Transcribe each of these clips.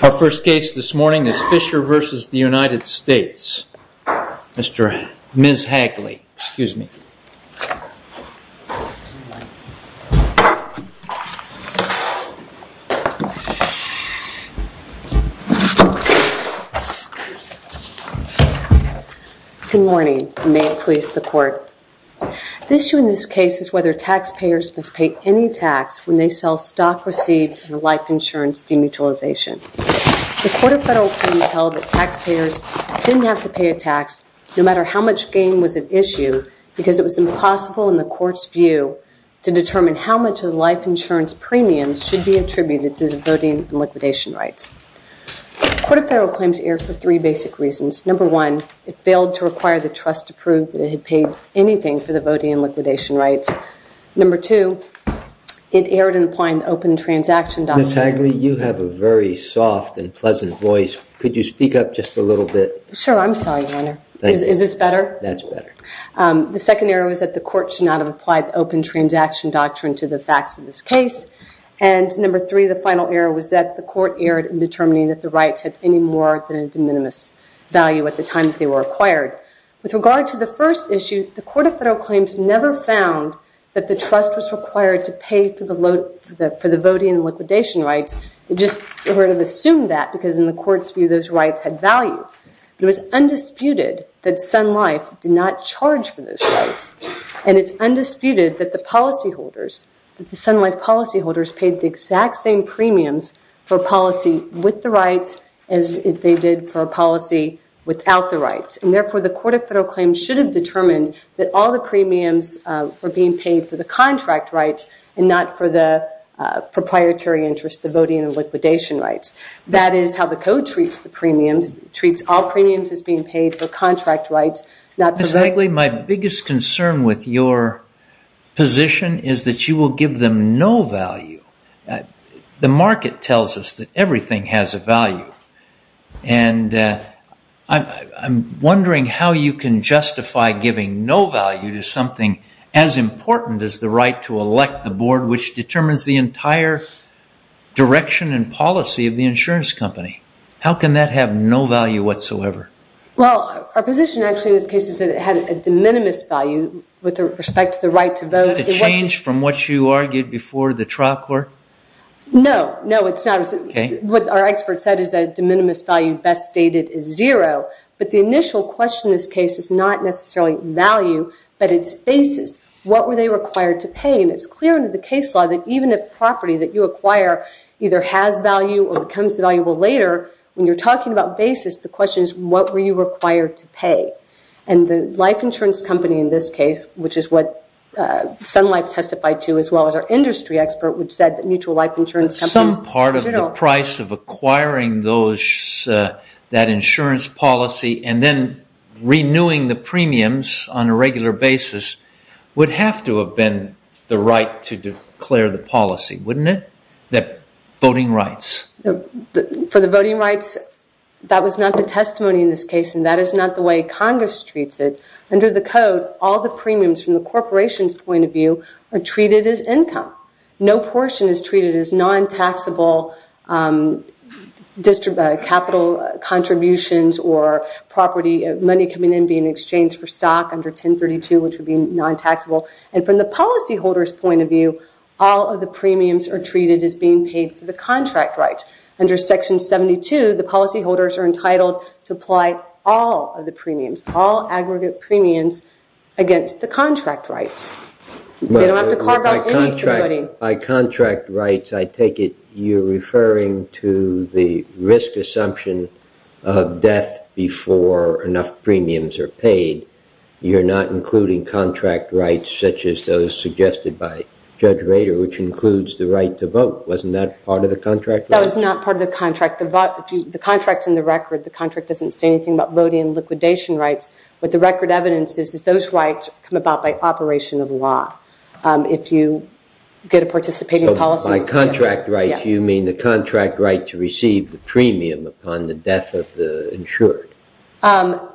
Our first case this morning is Fisher v. The United States. Ms. Hagley, excuse me. Good morning, and may it please the Court. The issue in this case is whether taxpayers must pay any tax when they sell stock received in a life insurance demutilization. The Court of Federal Claims held that taxpayers didn't have to pay a tax no matter how much gain was at issue because it was impossible in the Court's view to determine how much of the life insurance premiums should be attributed to the voting and liquidation rights. The Court of Federal Claims erred for three basic reasons. Number one, it failed to require the trust to prove that it had paid anything for the voting and liquidation rights. Number two, it erred in applying the Open Transaction Doctrine. Ms. Hagley, you have a very soft and pleasant voice. Could you speak up just a little bit? Sure, I'm sorry, Your Honor. Is this better? That's better. The second error was that the Court should not have applied the Open Transaction Doctrine to the facts of this case. And number three, the final error was that the Court erred in determining that the rights had any more than a de minimis value at the time that they were acquired. With regard to the first issue, the Court of Federal Claims never found that the trust was required to pay for the voting and liquidation rights. It just sort of assumed that because in the Court's view, those rights had value. It was undisputed that Sun Life did not charge for those rights. And it's undisputed that the Sun Life policyholders paid the exact same premiums for a policy with the rights as they did for a policy without the rights. And therefore, the Court of Federal Claims should have determined that all the premiums were being paid for the contract rights and not for the proprietary interests, the voting and liquidation rights. That is how the Code treats all premiums as being paid for contract rights. Ms. Hagley, my biggest concern with your position is that you will give them no value. The market tells us that everything has a value. And I'm wondering how you can justify giving no value to something as important as the right to elect the board which determines the entire direction and policy of the insurance company. How can that have no value whatsoever? Well, our position actually in this case is that it had a de minimis value with respect to the right to vote. Is that a change from what you argued before the trial court? No. No, it's not. What our expert said is that a de minimis value best stated is zero. But the initial question in this case is not necessarily value, but its basis. What were they required to pay? And it's clear in the case law that even a property that you acquire either has value or becomes valuable later, when you're talking about basis, the question is what were you required to pay? And the life insurance company in this case, which is what Sun Life testified to as well as our industry expert, which said that mutual life insurance companies... Some part of the price of acquiring that insurance policy and then renewing the premiums on a regular basis would have to have been the right to declare the policy, wouldn't it? That voting rights. For the voting rights, that was not the testimony in this case, and that is not the way Congress treats it. Under the code, all the premiums from the corporation's point of view are treated as income. No portion is treated as non-taxable capital contributions or money coming in being exchanged for stock under 1032, which would be non-taxable. And from the policyholder's point of view, all of the premiums are treated as being paid for the contract rights. Under Section 72, the policyholders are entitled to apply all of the premiums, all aggregate premiums against the contract rights. They don't have to carve out any for the voting. By contract rights, I take it you're referring to the risk assumption of death before enough premiums are paid. You're not including contract rights such as those suggested by Judge Rader, which includes the right to vote. Wasn't that part of the contract? That was not part of the contract. The contract's in the record. The contract doesn't say anything about voting and liquidation rights. What the record evidences is those rights come about by operation of law if you get a participating policy. By contract rights, you mean the contract right to receive the premium upon the death of the insured. The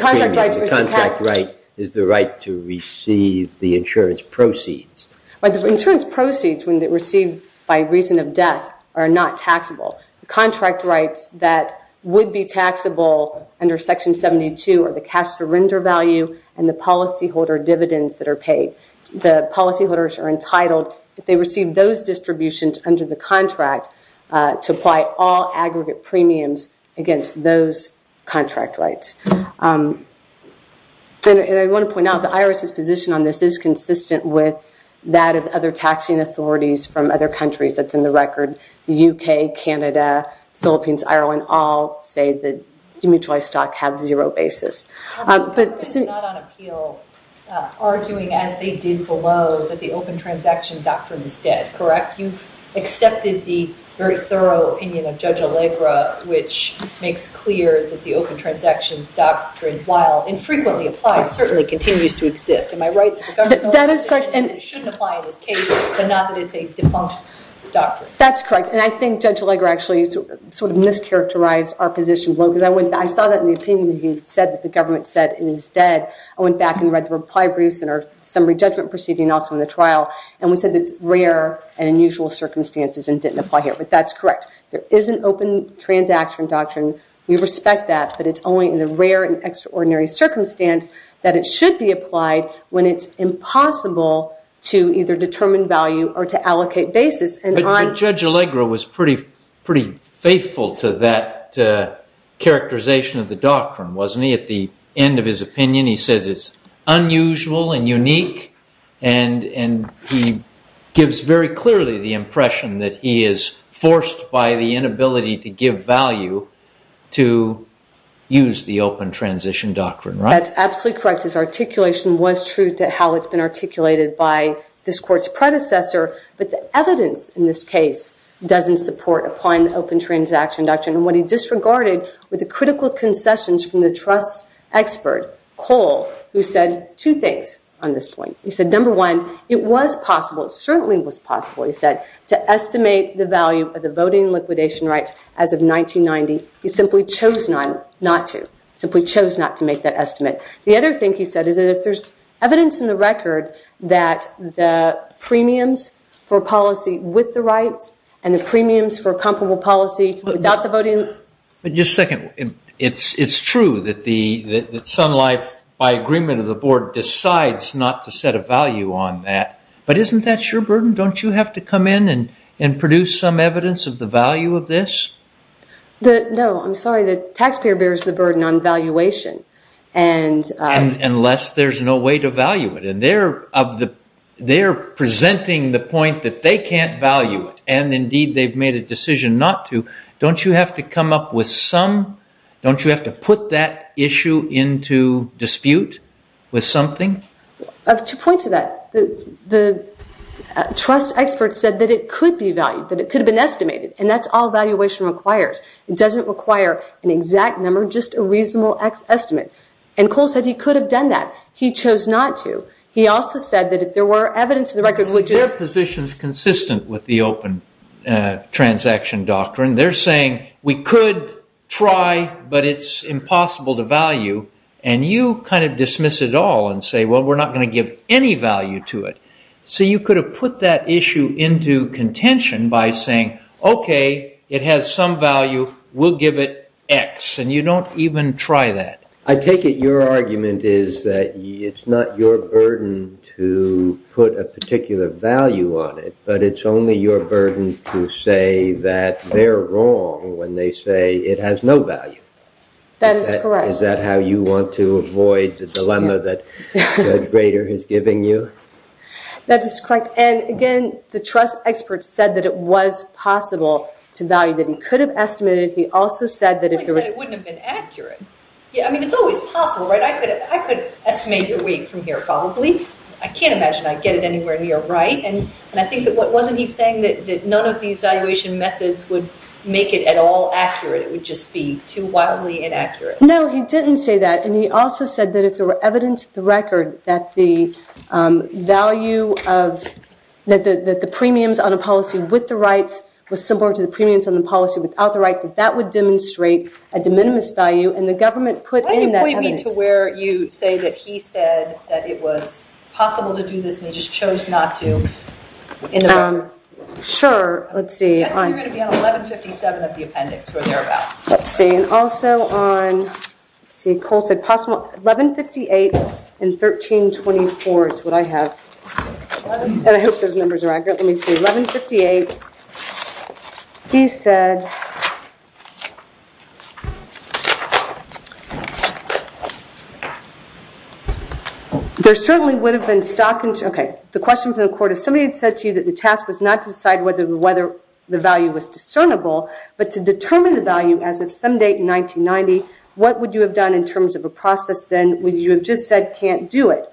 contract right is the right to receive the insurance proceeds. The insurance proceeds when they're received by reason of death are not taxable. The contract rights that would be taxable under Section 72 are the cash surrender value and the policyholder dividends that are paid. The policyholders are entitled, if they receive those distributions under the contract, to apply all aggregate premiums against those contract rights. I want to point out the IRS's position on this is consistent with that of other taxing authorities from other countries. That's in the record. The U.K., Canada, Philippines, Ireland all say that demutualized stock have zero basis. The government is not on appeal arguing as they did below that the open transaction doctrine is dead, correct? In fact, you've accepted the very thorough opinion of Judge Allegra, which makes clear that the open transaction doctrine, while infrequently applied, certainly continues to exist. Am I right? That is correct. It shouldn't apply in this case, but not that it's a defunct doctrine. That's correct. And I think Judge Allegra actually sort of mischaracterized our position. I saw that in the opinion that you said that the government said it is dead. I went back and read the reply briefs and our summary judgment proceeding also in the trial, and we said it's rare and unusual circumstances and didn't apply here, but that's correct. There is an open transaction doctrine. We respect that, but it's only in the rare and extraordinary circumstance that it should be applied when it's impossible to either determine value or to allocate basis. But Judge Allegra was pretty faithful to that characterization of the doctrine, wasn't he? At the end of his opinion, he says it's unusual and unique, and he gives very clearly the impression that he is forced by the inability to give value to use the open transition doctrine. That's absolutely correct. His articulation was true to how it's been articulated by this Court's predecessor, but the evidence in this case doesn't support applying the open transaction doctrine. What he disregarded were the critical concessions from the trust expert, Cole, who said two things on this point. He said, number one, it was possible. It certainly was possible, he said, to estimate the value of the voting liquidation rights as of 1990. He simply chose not to. He simply chose not to make that estimate. The other thing he said is that if there's evidence in the record that the premiums for policy with the rights and the premiums for comparable policy without the voting- Just a second. It's true that Sun Life, by agreement of the Board, decides not to set a value on that, but isn't that your burden? Don't you have to come in and produce some evidence of the value of this? No, I'm sorry. The taxpayer bears the burden on valuation. Unless there's no way to value it. They're presenting the point that they can't value it, and indeed they've made a decision not to. Don't you have to come up with some? Don't you have to put that issue into dispute with something? To point to that, the trust expert said that it could be valued, that it could have been estimated, and that's all valuation requires. It doesn't require an exact number, just a reasonable estimate. And Cole said he could have done that. He chose not to. He also said that if there were evidence of the record which is- Their position is consistent with the open transaction doctrine. They're saying we could try, but it's impossible to value. And you kind of dismiss it all and say, well, we're not going to give any value to it. So you could have put that issue into contention by saying, okay, it has some value. We'll give it X. And you don't even try that. I take it your argument is that it's not your burden to put a particular value on it, but it's only your burden to say that they're wrong when they say it has no value. That is correct. Is that how you want to avoid the dilemma that Greg Rader is giving you? That is correct. And, again, the trust expert said that it was possible to value, that he could have estimated. He said it wouldn't have been accurate. I mean, it's always possible, right? I could estimate your weight from here probably. I can't imagine I'd get it anywhere near right. And I think that wasn't he saying that none of these valuation methods would make it at all accurate. It would just be too wildly inaccurate. No, he didn't say that. And he also said that if there were evidence of the record that the value of- was similar to the premiums on the policy without the rights, that that would demonstrate a de minimis value. And the government put in that evidence- Why don't you point me to where you say that he said that it was possible to do this and he just chose not to in the record? Sure. Let's see. I think you're going to be on 1157 of the appendix or thereabout. Let's see. And also on- let's see. Cole said possible- 1158 and 1324 is what I have. And I hope those numbers are accurate. Let me see. 1158. He said- There certainly would have been stock- okay. The question from the court, if somebody had said to you that the task was not to decide whether the value was discernible, but to determine the value as of some date in 1990, what would you have done in terms of a process then? Would you have just said can't do it?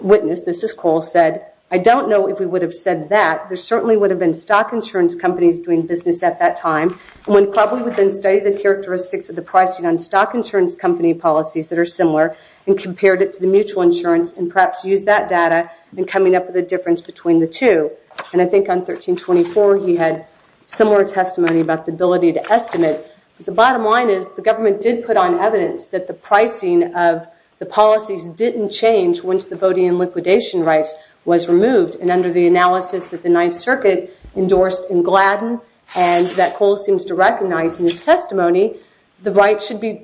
Witness, this is Cole, said, I don't know if we would have said that. There certainly would have been stock insurance companies doing business at that time. One probably would have studied the characteristics of the pricing on stock insurance company policies that are similar and compared it to the mutual insurance and perhaps used that data in coming up with a difference between the two. And I think on 1324 he had similar testimony about the ability to estimate. But the bottom line is the government did put on evidence that the pricing of the policies didn't change once the voting and liquidation rights was removed. And under the analysis that the Ninth Circuit endorsed in Gladden and that Cole seems to recognize in his testimony, the right should be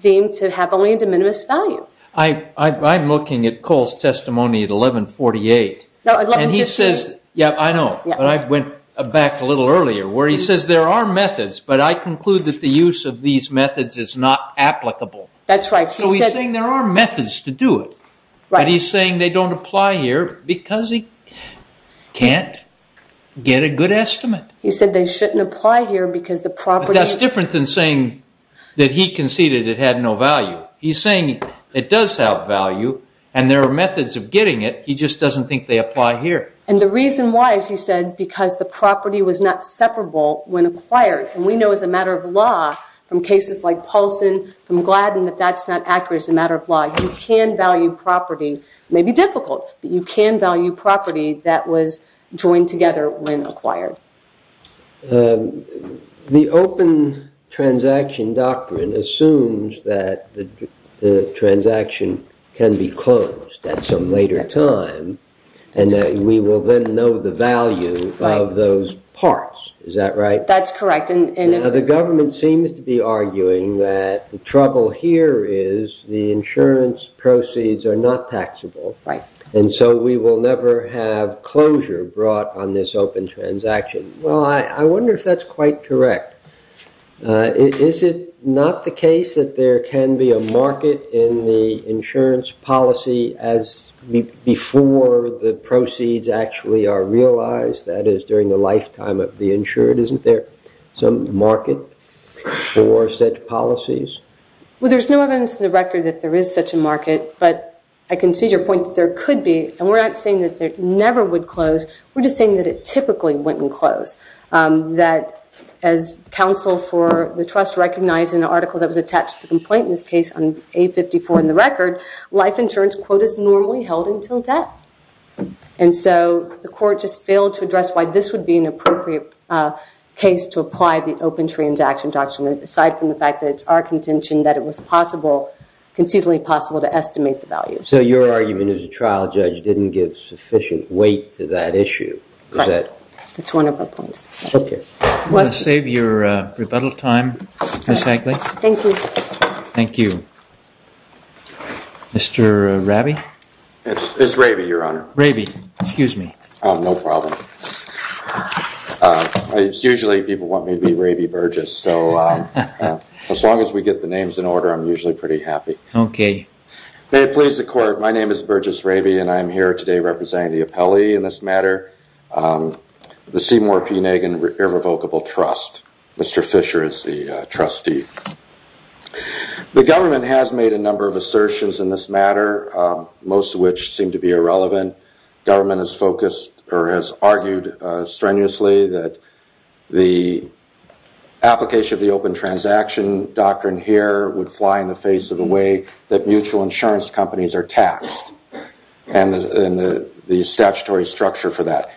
deemed to have only a de minimis value. I'm looking at Cole's testimony at 1148. And he says- Yeah, I know. But I went back a little earlier where he says there are methods. But I conclude that the use of these methods is not applicable. That's right. So he's saying there are methods to do it. But he's saying they don't apply here because he can't get a good estimate. He said they shouldn't apply here because the property- That's different than saying that he conceded it had no value. He's saying it does have value and there are methods of getting it. He just doesn't think they apply here. And the reason why is, he said, because the property was not separable when acquired. And we know as a matter of law from cases like Paulson, from Gladden, that that's not accurate as a matter of law. You can value property. It may be difficult, but you can value property that was joined together when acquired. The open transaction doctrine assumes that the transaction can be closed at some later time and that we will then know the value of those parts. Is that right? That's correct. Now, the government seems to be arguing that the trouble here is the insurance proceeds are not taxable. And so we will never have closure brought on this open transaction. Well, I wonder if that's quite correct. Is it not the case that there can be a market in the insurance policy as before the proceeds actually are realized? That is, during the lifetime of the insured, isn't there some market for such policies? Well, there's no evidence in the record that there is such a market, but I can see your point that there could be. And we're not saying that it never would close. We're just saying that it typically wouldn't close. As counsel for the trust recognized in an article that was attached to the complaint in this case on A54 in the record, life insurance quotas normally held until death. And so the court just failed to address why this would be an appropriate case to apply the open transaction doctrine aside from the fact that it's our contention that it was conceivably possible to estimate the value. So your argument as a trial judge didn't give sufficient weight to that issue? Correct. That's one of our points. Okay. I'm going to save your rebuttal time, Ms. Hagley. Thank you. Thank you. Mr. Rabi? It's Rabi, Your Honor. Rabi, excuse me. No problem. It's usually people want me to be Rabi Burgess, so as long as we get the names in order, I'm usually pretty happy. Okay. May it please the court, my name is Burgess Rabi, and I am here today representing the appellee in this matter, the Seymour P. Nagan Irrevocable Trust. Mr. Fisher is the trustee. The government has made a number of assertions in this matter, most of which seem to be irrelevant. Government has focused or has argued strenuously that the application of the open transaction doctrine here would fly in the face of the way that mutual insurance companies are taxed and the statutory structure for that.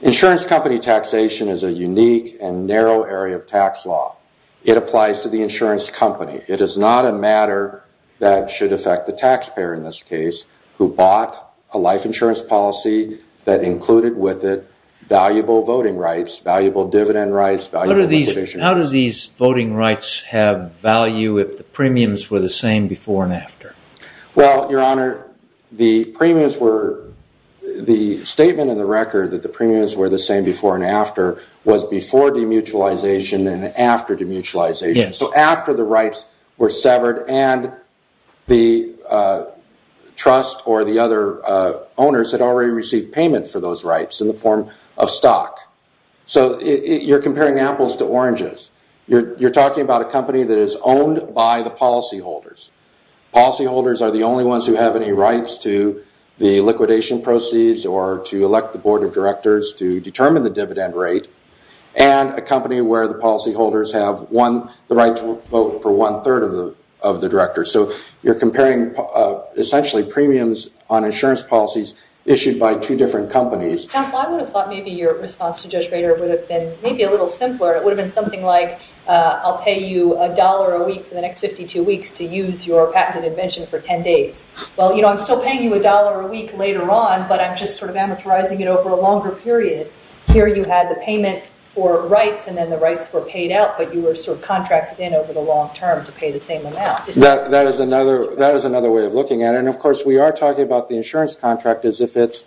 Insurance company taxation is a unique and narrow area of tax law. It applies to the insurance company. It is not a matter that should affect the taxpayer in this case who bought a life insurance policy that included with it valuable voting rights, valuable dividend rights, valuable motivation rights. How do these voting rights have value if the premiums were the same before and after? Well, Your Honor, the premiums were, the statement in the record that the premiums were the same before and after was before demutualization and after demutualization. So after the rights were severed and the trust or the other owners had already received payment for those rights in the form of stock. So you're comparing apples to oranges. You're talking about a company that is owned by the policyholders. Policyholders are the only ones who have any rights to the liquidation proceeds or to elect the board of directors to determine the dividend rate and a company where the policyholders have won the right to vote for one third of the directors. So you're comparing essentially premiums on insurance policies issued by two different companies. Counsel, I would have thought maybe your response to Judge Rader would have been maybe a little simpler. It would have been something like I'll pay you a dollar a week for the next 52 weeks to use your patented invention for 10 days. Well, you know, I'm still paying you a dollar a week later on, but I'm just sort of amortizing it over a longer period. Here you had the payment for rights and then the rights were paid out, but you were sort of contracted in over the long term to pay the same amount. That is another way of looking at it. And, of course, we are talking about the insurance contract as if it's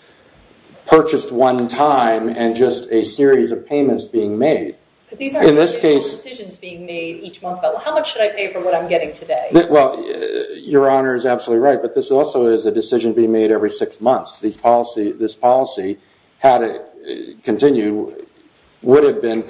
purchased one time and just a series of payments being made. But these aren't decisions being made each month. How much should I pay for what I'm getting today? Well, Your Honor is absolutely right, but this also is a decision being made every six months. This policy, had it continued, would have been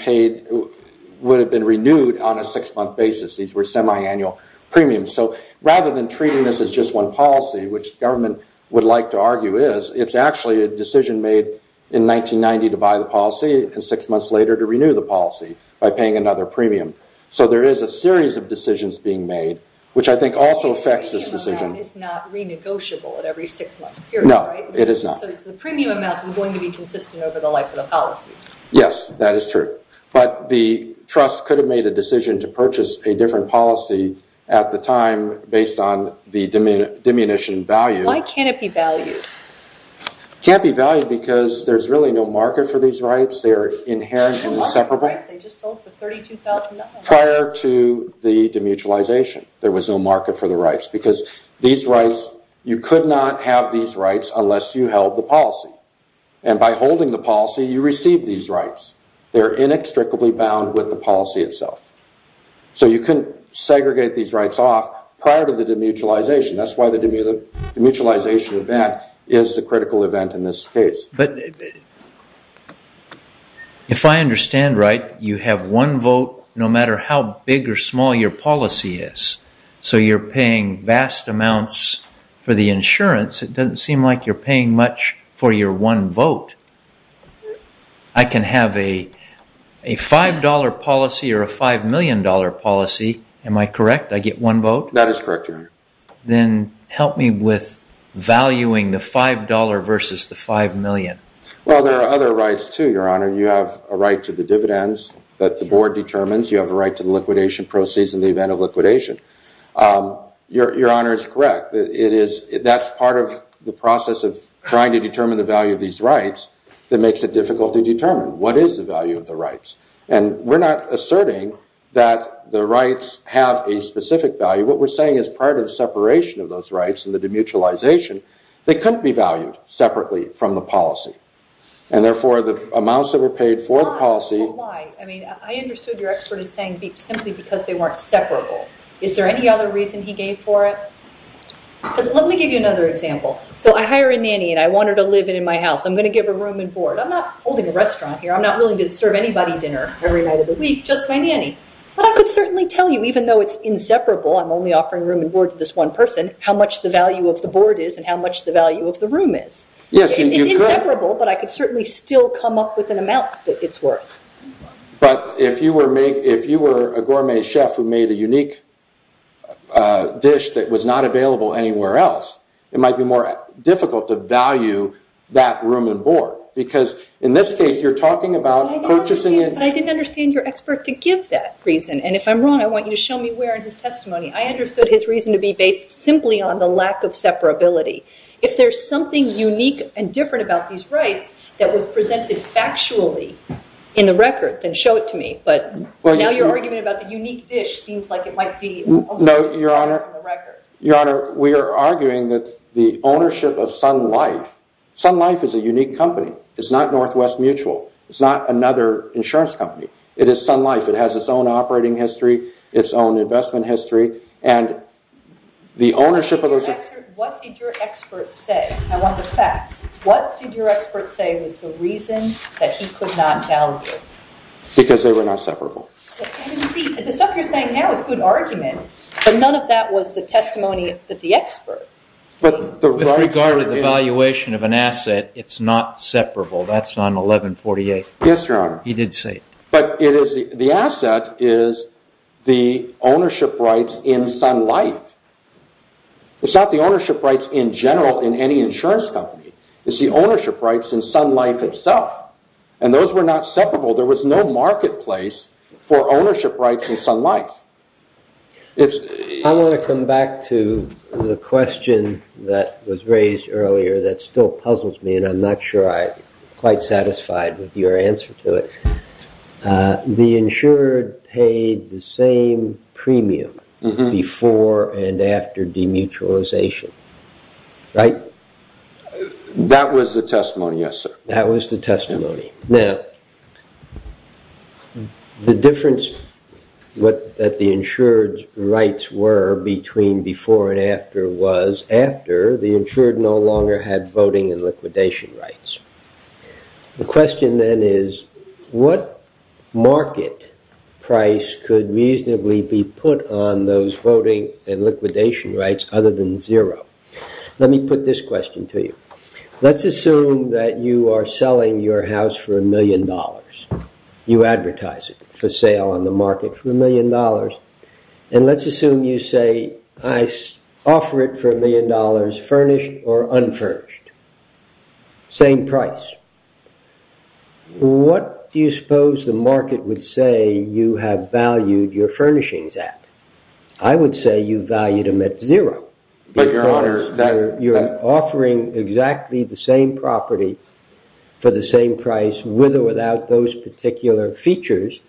renewed on a six-month basis. These were semi-annual premiums. So rather than treating this as just one policy, which the government would like to argue is, it's actually a decision made in 1990 to buy the policy and six months later to renew the policy by paying another premium. So there is a series of decisions being made, which I think also affects this decision. The premium is not renegotiable at every six-month period, right? No, it is not. So the premium amount is going to be consistent over the life of the policy. Yes, that is true. But the trust could have made a decision to purchase a different policy at the time based on the diminution value. Why can't it be valued? It can't be valued because there's really no market for these rights. They are inherent and inseparable. They just sold for $32,000. Prior to the demutualization, there was no market for the rights. Because you could not have these rights unless you held the policy. And by holding the policy, you receive these rights. They are inextricably bound with the policy itself. So you couldn't segregate these rights off prior to the demutualization. That's why the demutualization event is the critical event in this case. But if I understand right, you have one vote no matter how big or small your policy is. So you're paying vast amounts for the insurance. It doesn't seem like you're paying much for your one vote. I can have a $5 policy or a $5 million policy. Am I correct? I get one vote? That is correct, Your Honor. Then help me with valuing the $5 versus the $5 million. Well, there are other rights, too, Your Honor. You have a right to the dividends that the board determines. You have a right to the liquidation proceeds in the event of liquidation. Your Honor is correct. That's part of the process of trying to determine the value of these rights that makes it difficult to determine. What is the value of the rights? And we're not asserting that the rights have a specific value. What we're saying is part of the separation of those rights and the demutualization, they couldn't be valued separately from the policy. And, therefore, the amounts that were paid for the policy Well, why? I mean, I understood your expert is saying simply because they weren't separable. Is there any other reason he gave for it? Let me give you another example. So I hire a nanny, and I want her to live in my house. I'm going to give her room and board. I'm not holding a restaurant here. I'm not willing to serve anybody dinner every night of the week, just my nanny. But I could certainly tell you, even though it's inseparable, I'm only offering room and board to this one person, how much the value of the board is and how much the value of the room is. It's inseparable, but I could certainly still come up with an amount that it's worth. But if you were a gourmet chef who made a unique dish that was not available anywhere else, it might be more difficult to value that room and board. Because in this case, you're talking about purchasing it. But I didn't understand your expert to give that reason. And if I'm wrong, I want you to show me where in his testimony. I understood his reason to be based simply on the lack of separability. If there's something unique and different about these rights that was presented factually in the record, then show it to me. But now you're arguing about the unique dish seems like it might be only one in the record. Your Honor, we are arguing that the ownership of Sun Life, Sun Life is a unique company. It's not Northwest Mutual. It's not another insurance company. It is Sun Life. It has its own operating history, its own investment history. What did your expert say? I want the facts. What did your expert say was the reason that he could not value it? Because they were not separable. The stuff you're saying now is good argument. But none of that was the testimony that the expert gave. With regard to the valuation of an asset, it's not separable. That's on 1148. Yes, Your Honor. He did say it. But the asset is the ownership rights in Sun Life. It's not the ownership rights in general in any insurance company. It's the ownership rights in Sun Life itself. And those were not separable. There was no marketplace for ownership rights in Sun Life. I want to come back to the question that was raised earlier that still puzzles me, but I'm not sure I'm quite satisfied with your answer to it. The insured paid the same premium before and after demutualization, right? That was the testimony, yes, sir. That was the testimony. Now, the difference that the insured's rights were between before and after was after the insured no longer had voting and liquidation rights. The question then is what market price could reasonably be put on those voting and liquidation rights other than zero? Let me put this question to you. Let's assume that you are selling your house for a million dollars. You advertise it for sale on the market for a million dollars. And let's assume you say, I offer it for a million dollars furnished or unfurnished. Same price. What do you suppose the market would say you have valued your furnishings at? I would say you valued them at zero. Because you're offering exactly the same property for the same price with or without those particular features,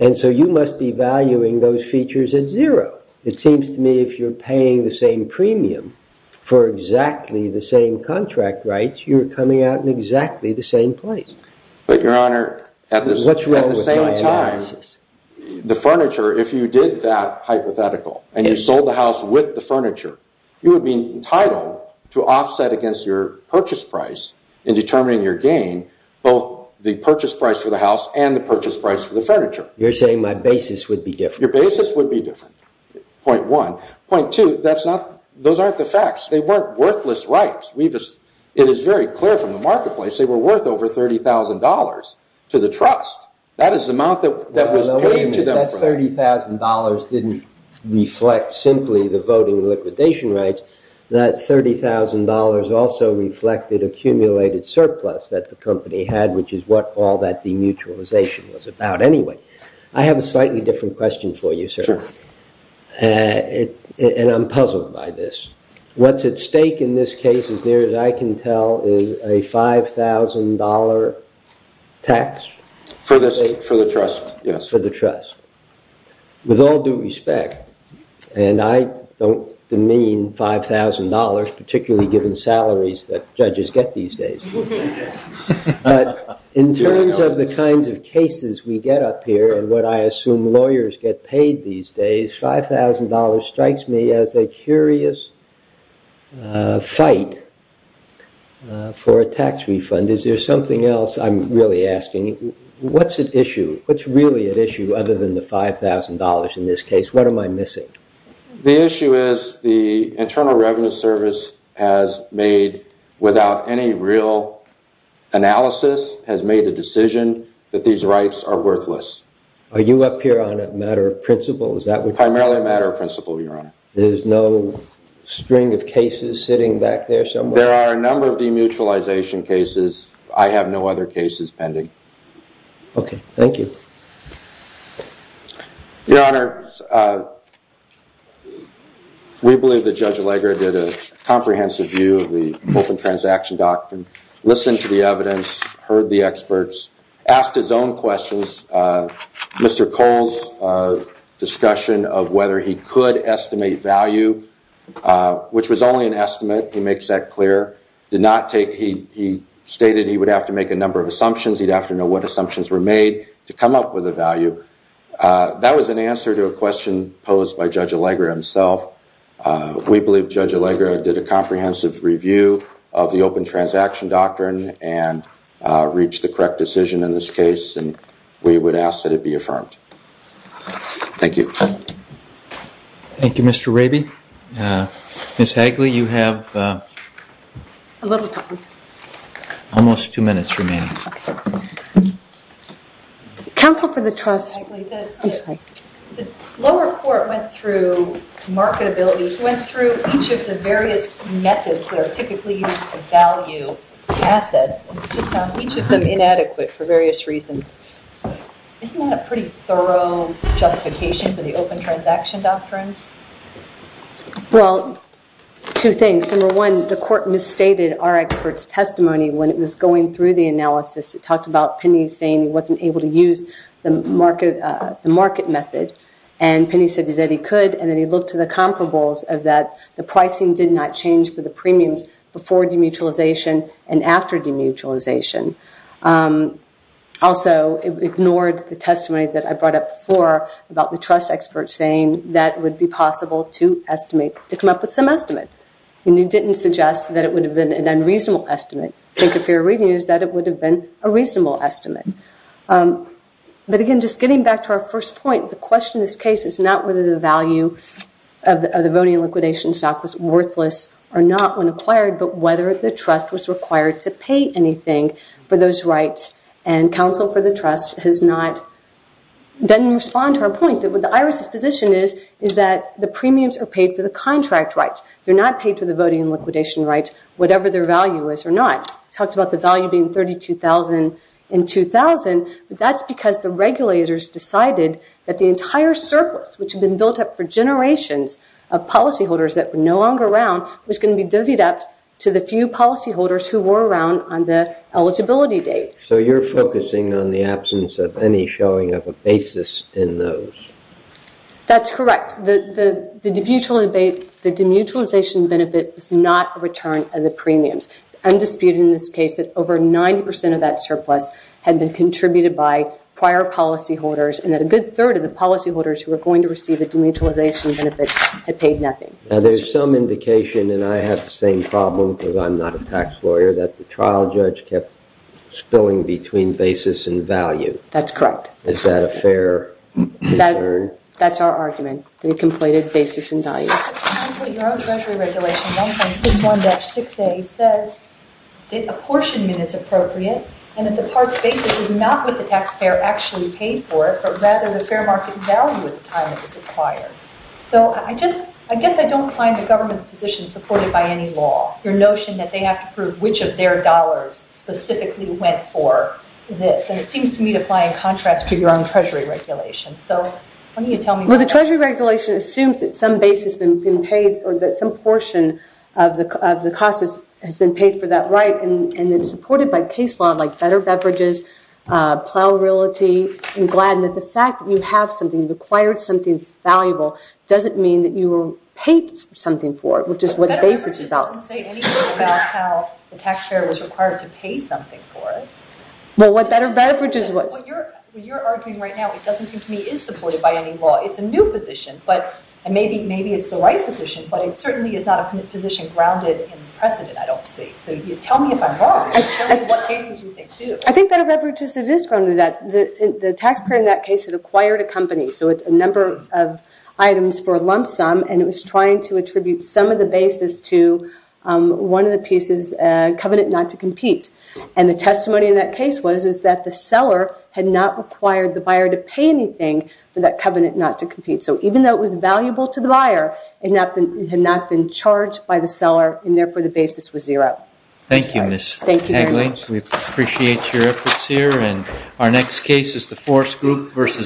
and so you must be valuing those features at zero. It seems to me if you're paying the same premium for exactly the same contract rights, you're coming out in exactly the same place. But, Your Honor, at the same time, the furniture, if you did that hypothetical and you sold the house with the furniture, you would be entitled to offset against your purchase price in determining your gain, both the purchase price for the house and the purchase price for the furniture. You're saying my basis would be different. Your basis would be different, point one. Point two, those aren't the facts. They weren't worthless rights. It is very clear from the marketplace they were worth over $30,000 to the trust. That is the amount that was paid to them. The way that that $30,000 didn't reflect simply the voting liquidation rights, that $30,000 also reflected accumulated surplus that the company had, which is what all that demutualization was about anyway. I have a slightly different question for you, sir, and I'm puzzled by this. What's at stake in this case, as near as I can tell, is a $5,000 tax? For the trust, yes. For the trust. With all due respect, and I don't demean $5,000, particularly given salaries that judges get these days, but in terms of the kinds of cases we get up here and what I assume lawyers get paid these days, $5,000 strikes me as a curious fight for a tax refund. Is there something else I'm really asking? What's at issue? What's really at issue other than the $5,000 in this case? What am I missing? The issue is the Internal Revenue Service has made, without any real analysis, has made a decision that these rights are worthless. Are you up here on a matter of principle? Primarily a matter of principle, Your Honor. There's no string of cases sitting back there somewhere? There are a number of demutualization cases. I have no other cases pending. Okay. Thank you. Your Honor, we believe that Judge Allegra did a comprehensive view of the open transaction doctrine, listened to the evidence, heard the experts, asked his own questions. Mr. Cole's discussion of whether he could estimate value, which was only an estimate, he makes that clear, did not take, he stated he would have to make a number of assumptions, he'd have to know what assumptions were made to come up with a value. That was an answer to a question posed by Judge Allegra himself. We believe Judge Allegra did a comprehensive review of the open transaction doctrine and reached the correct decision in this case, and we would ask that it be affirmed. Thank you. Thank you, Mr. Raby. Ms. Hagley, you have almost two minutes remaining. Counsel for the trust. The lower court went through marketability, went through each of the various methods that are typically used to value assets, and found each of them inadequate for various reasons. Isn't that a pretty thorough justification for the open transaction doctrine? Well, two things. Number one, the court misstated our expert's testimony when it was going through the analysis. It talked about Penny saying he wasn't able to use the market method, and Penny said that he could, and then he looked to the comparables of that the pricing did not change for the premiums before demutualization and after demutualization. Also, it ignored the testimony that I brought up before about the trust expert saying that it would be possible to estimate, to come up with some estimate, and he didn't suggest that it would have been an unreasonable estimate. I think if you're reading this, that it would have been a reasonable estimate. But again, just getting back to our first point, the question in this case is not whether the value of the voting liquidation stock was worthless or not when acquired, but whether the trust was required to pay anything for those rights, and counsel for the trust has not, doesn't respond to our point, that what the IRS's position is, is that the premiums are paid for the contract rights. They're not paid for the voting liquidation rights, whatever their value is or not. It talks about the value being $32,000 in 2000, but that's because the regulators decided that the entire surplus, which had been built up for generations of policyholders that were no longer around, was going to be divvied up to the few policyholders who were around on the eligibility date. So you're focusing on the absence of any showing of a basis in those? That's correct. The demutualization benefit is not a return of the premiums. It's undisputed in this case that over 90% of that surplus had been contributed by prior policyholders and that a good third of the policyholders who were going to receive a demutualization benefit had paid nothing. Now there's some indication, and I have the same problem because I'm not a tax lawyer, that the trial judge kept spilling between basis and value. That's correct. Is that a fair return? That's our argument, the completed basis and value. Your own treasury regulation, 1.61-6A, says that apportionment is appropriate and that the part's basis is not what the taxpayer actually paid for it, but rather the fair market value at the time it was acquired. So I guess I don't find the government's position supported by any law, your notion that they have to prove which of their dollars specifically went for this. And it seems to me to fly in contrast to your own treasury regulation. So why don't you tell me more? Well, the treasury regulation assumes that some portion of the cost has been paid for that right and it's supported by case law like better beverages, plow realty, and the fact that you have something, you've acquired something valuable, doesn't mean that you were paid something for it, which is what the basis is. Better beverages doesn't say anything about how the taxpayer was required to pay something for it. Well, what better beverages was. What you're arguing right now, it doesn't seem to me is supported by any law. It's a new position, and maybe it's the right position, but it certainly is not a position grounded in precedent, I don't see. So tell me if I'm wrong. Show me what cases you think do. I think better beverages, it is grounded in that. The taxpayer in that case had acquired a company, so a number of items for a lump sum, and it was trying to attribute some of the basis to one of the pieces, covenant not to compete. And the testimony in that case was that the seller had not required the buyer to pay anything for that covenant not to compete. So even though it was valuable to the buyer, it had not been charged by the seller, and therefore the basis was zero. Thank you, Ms. Hagley. We appreciate your efforts here. And our next case is the force group versus.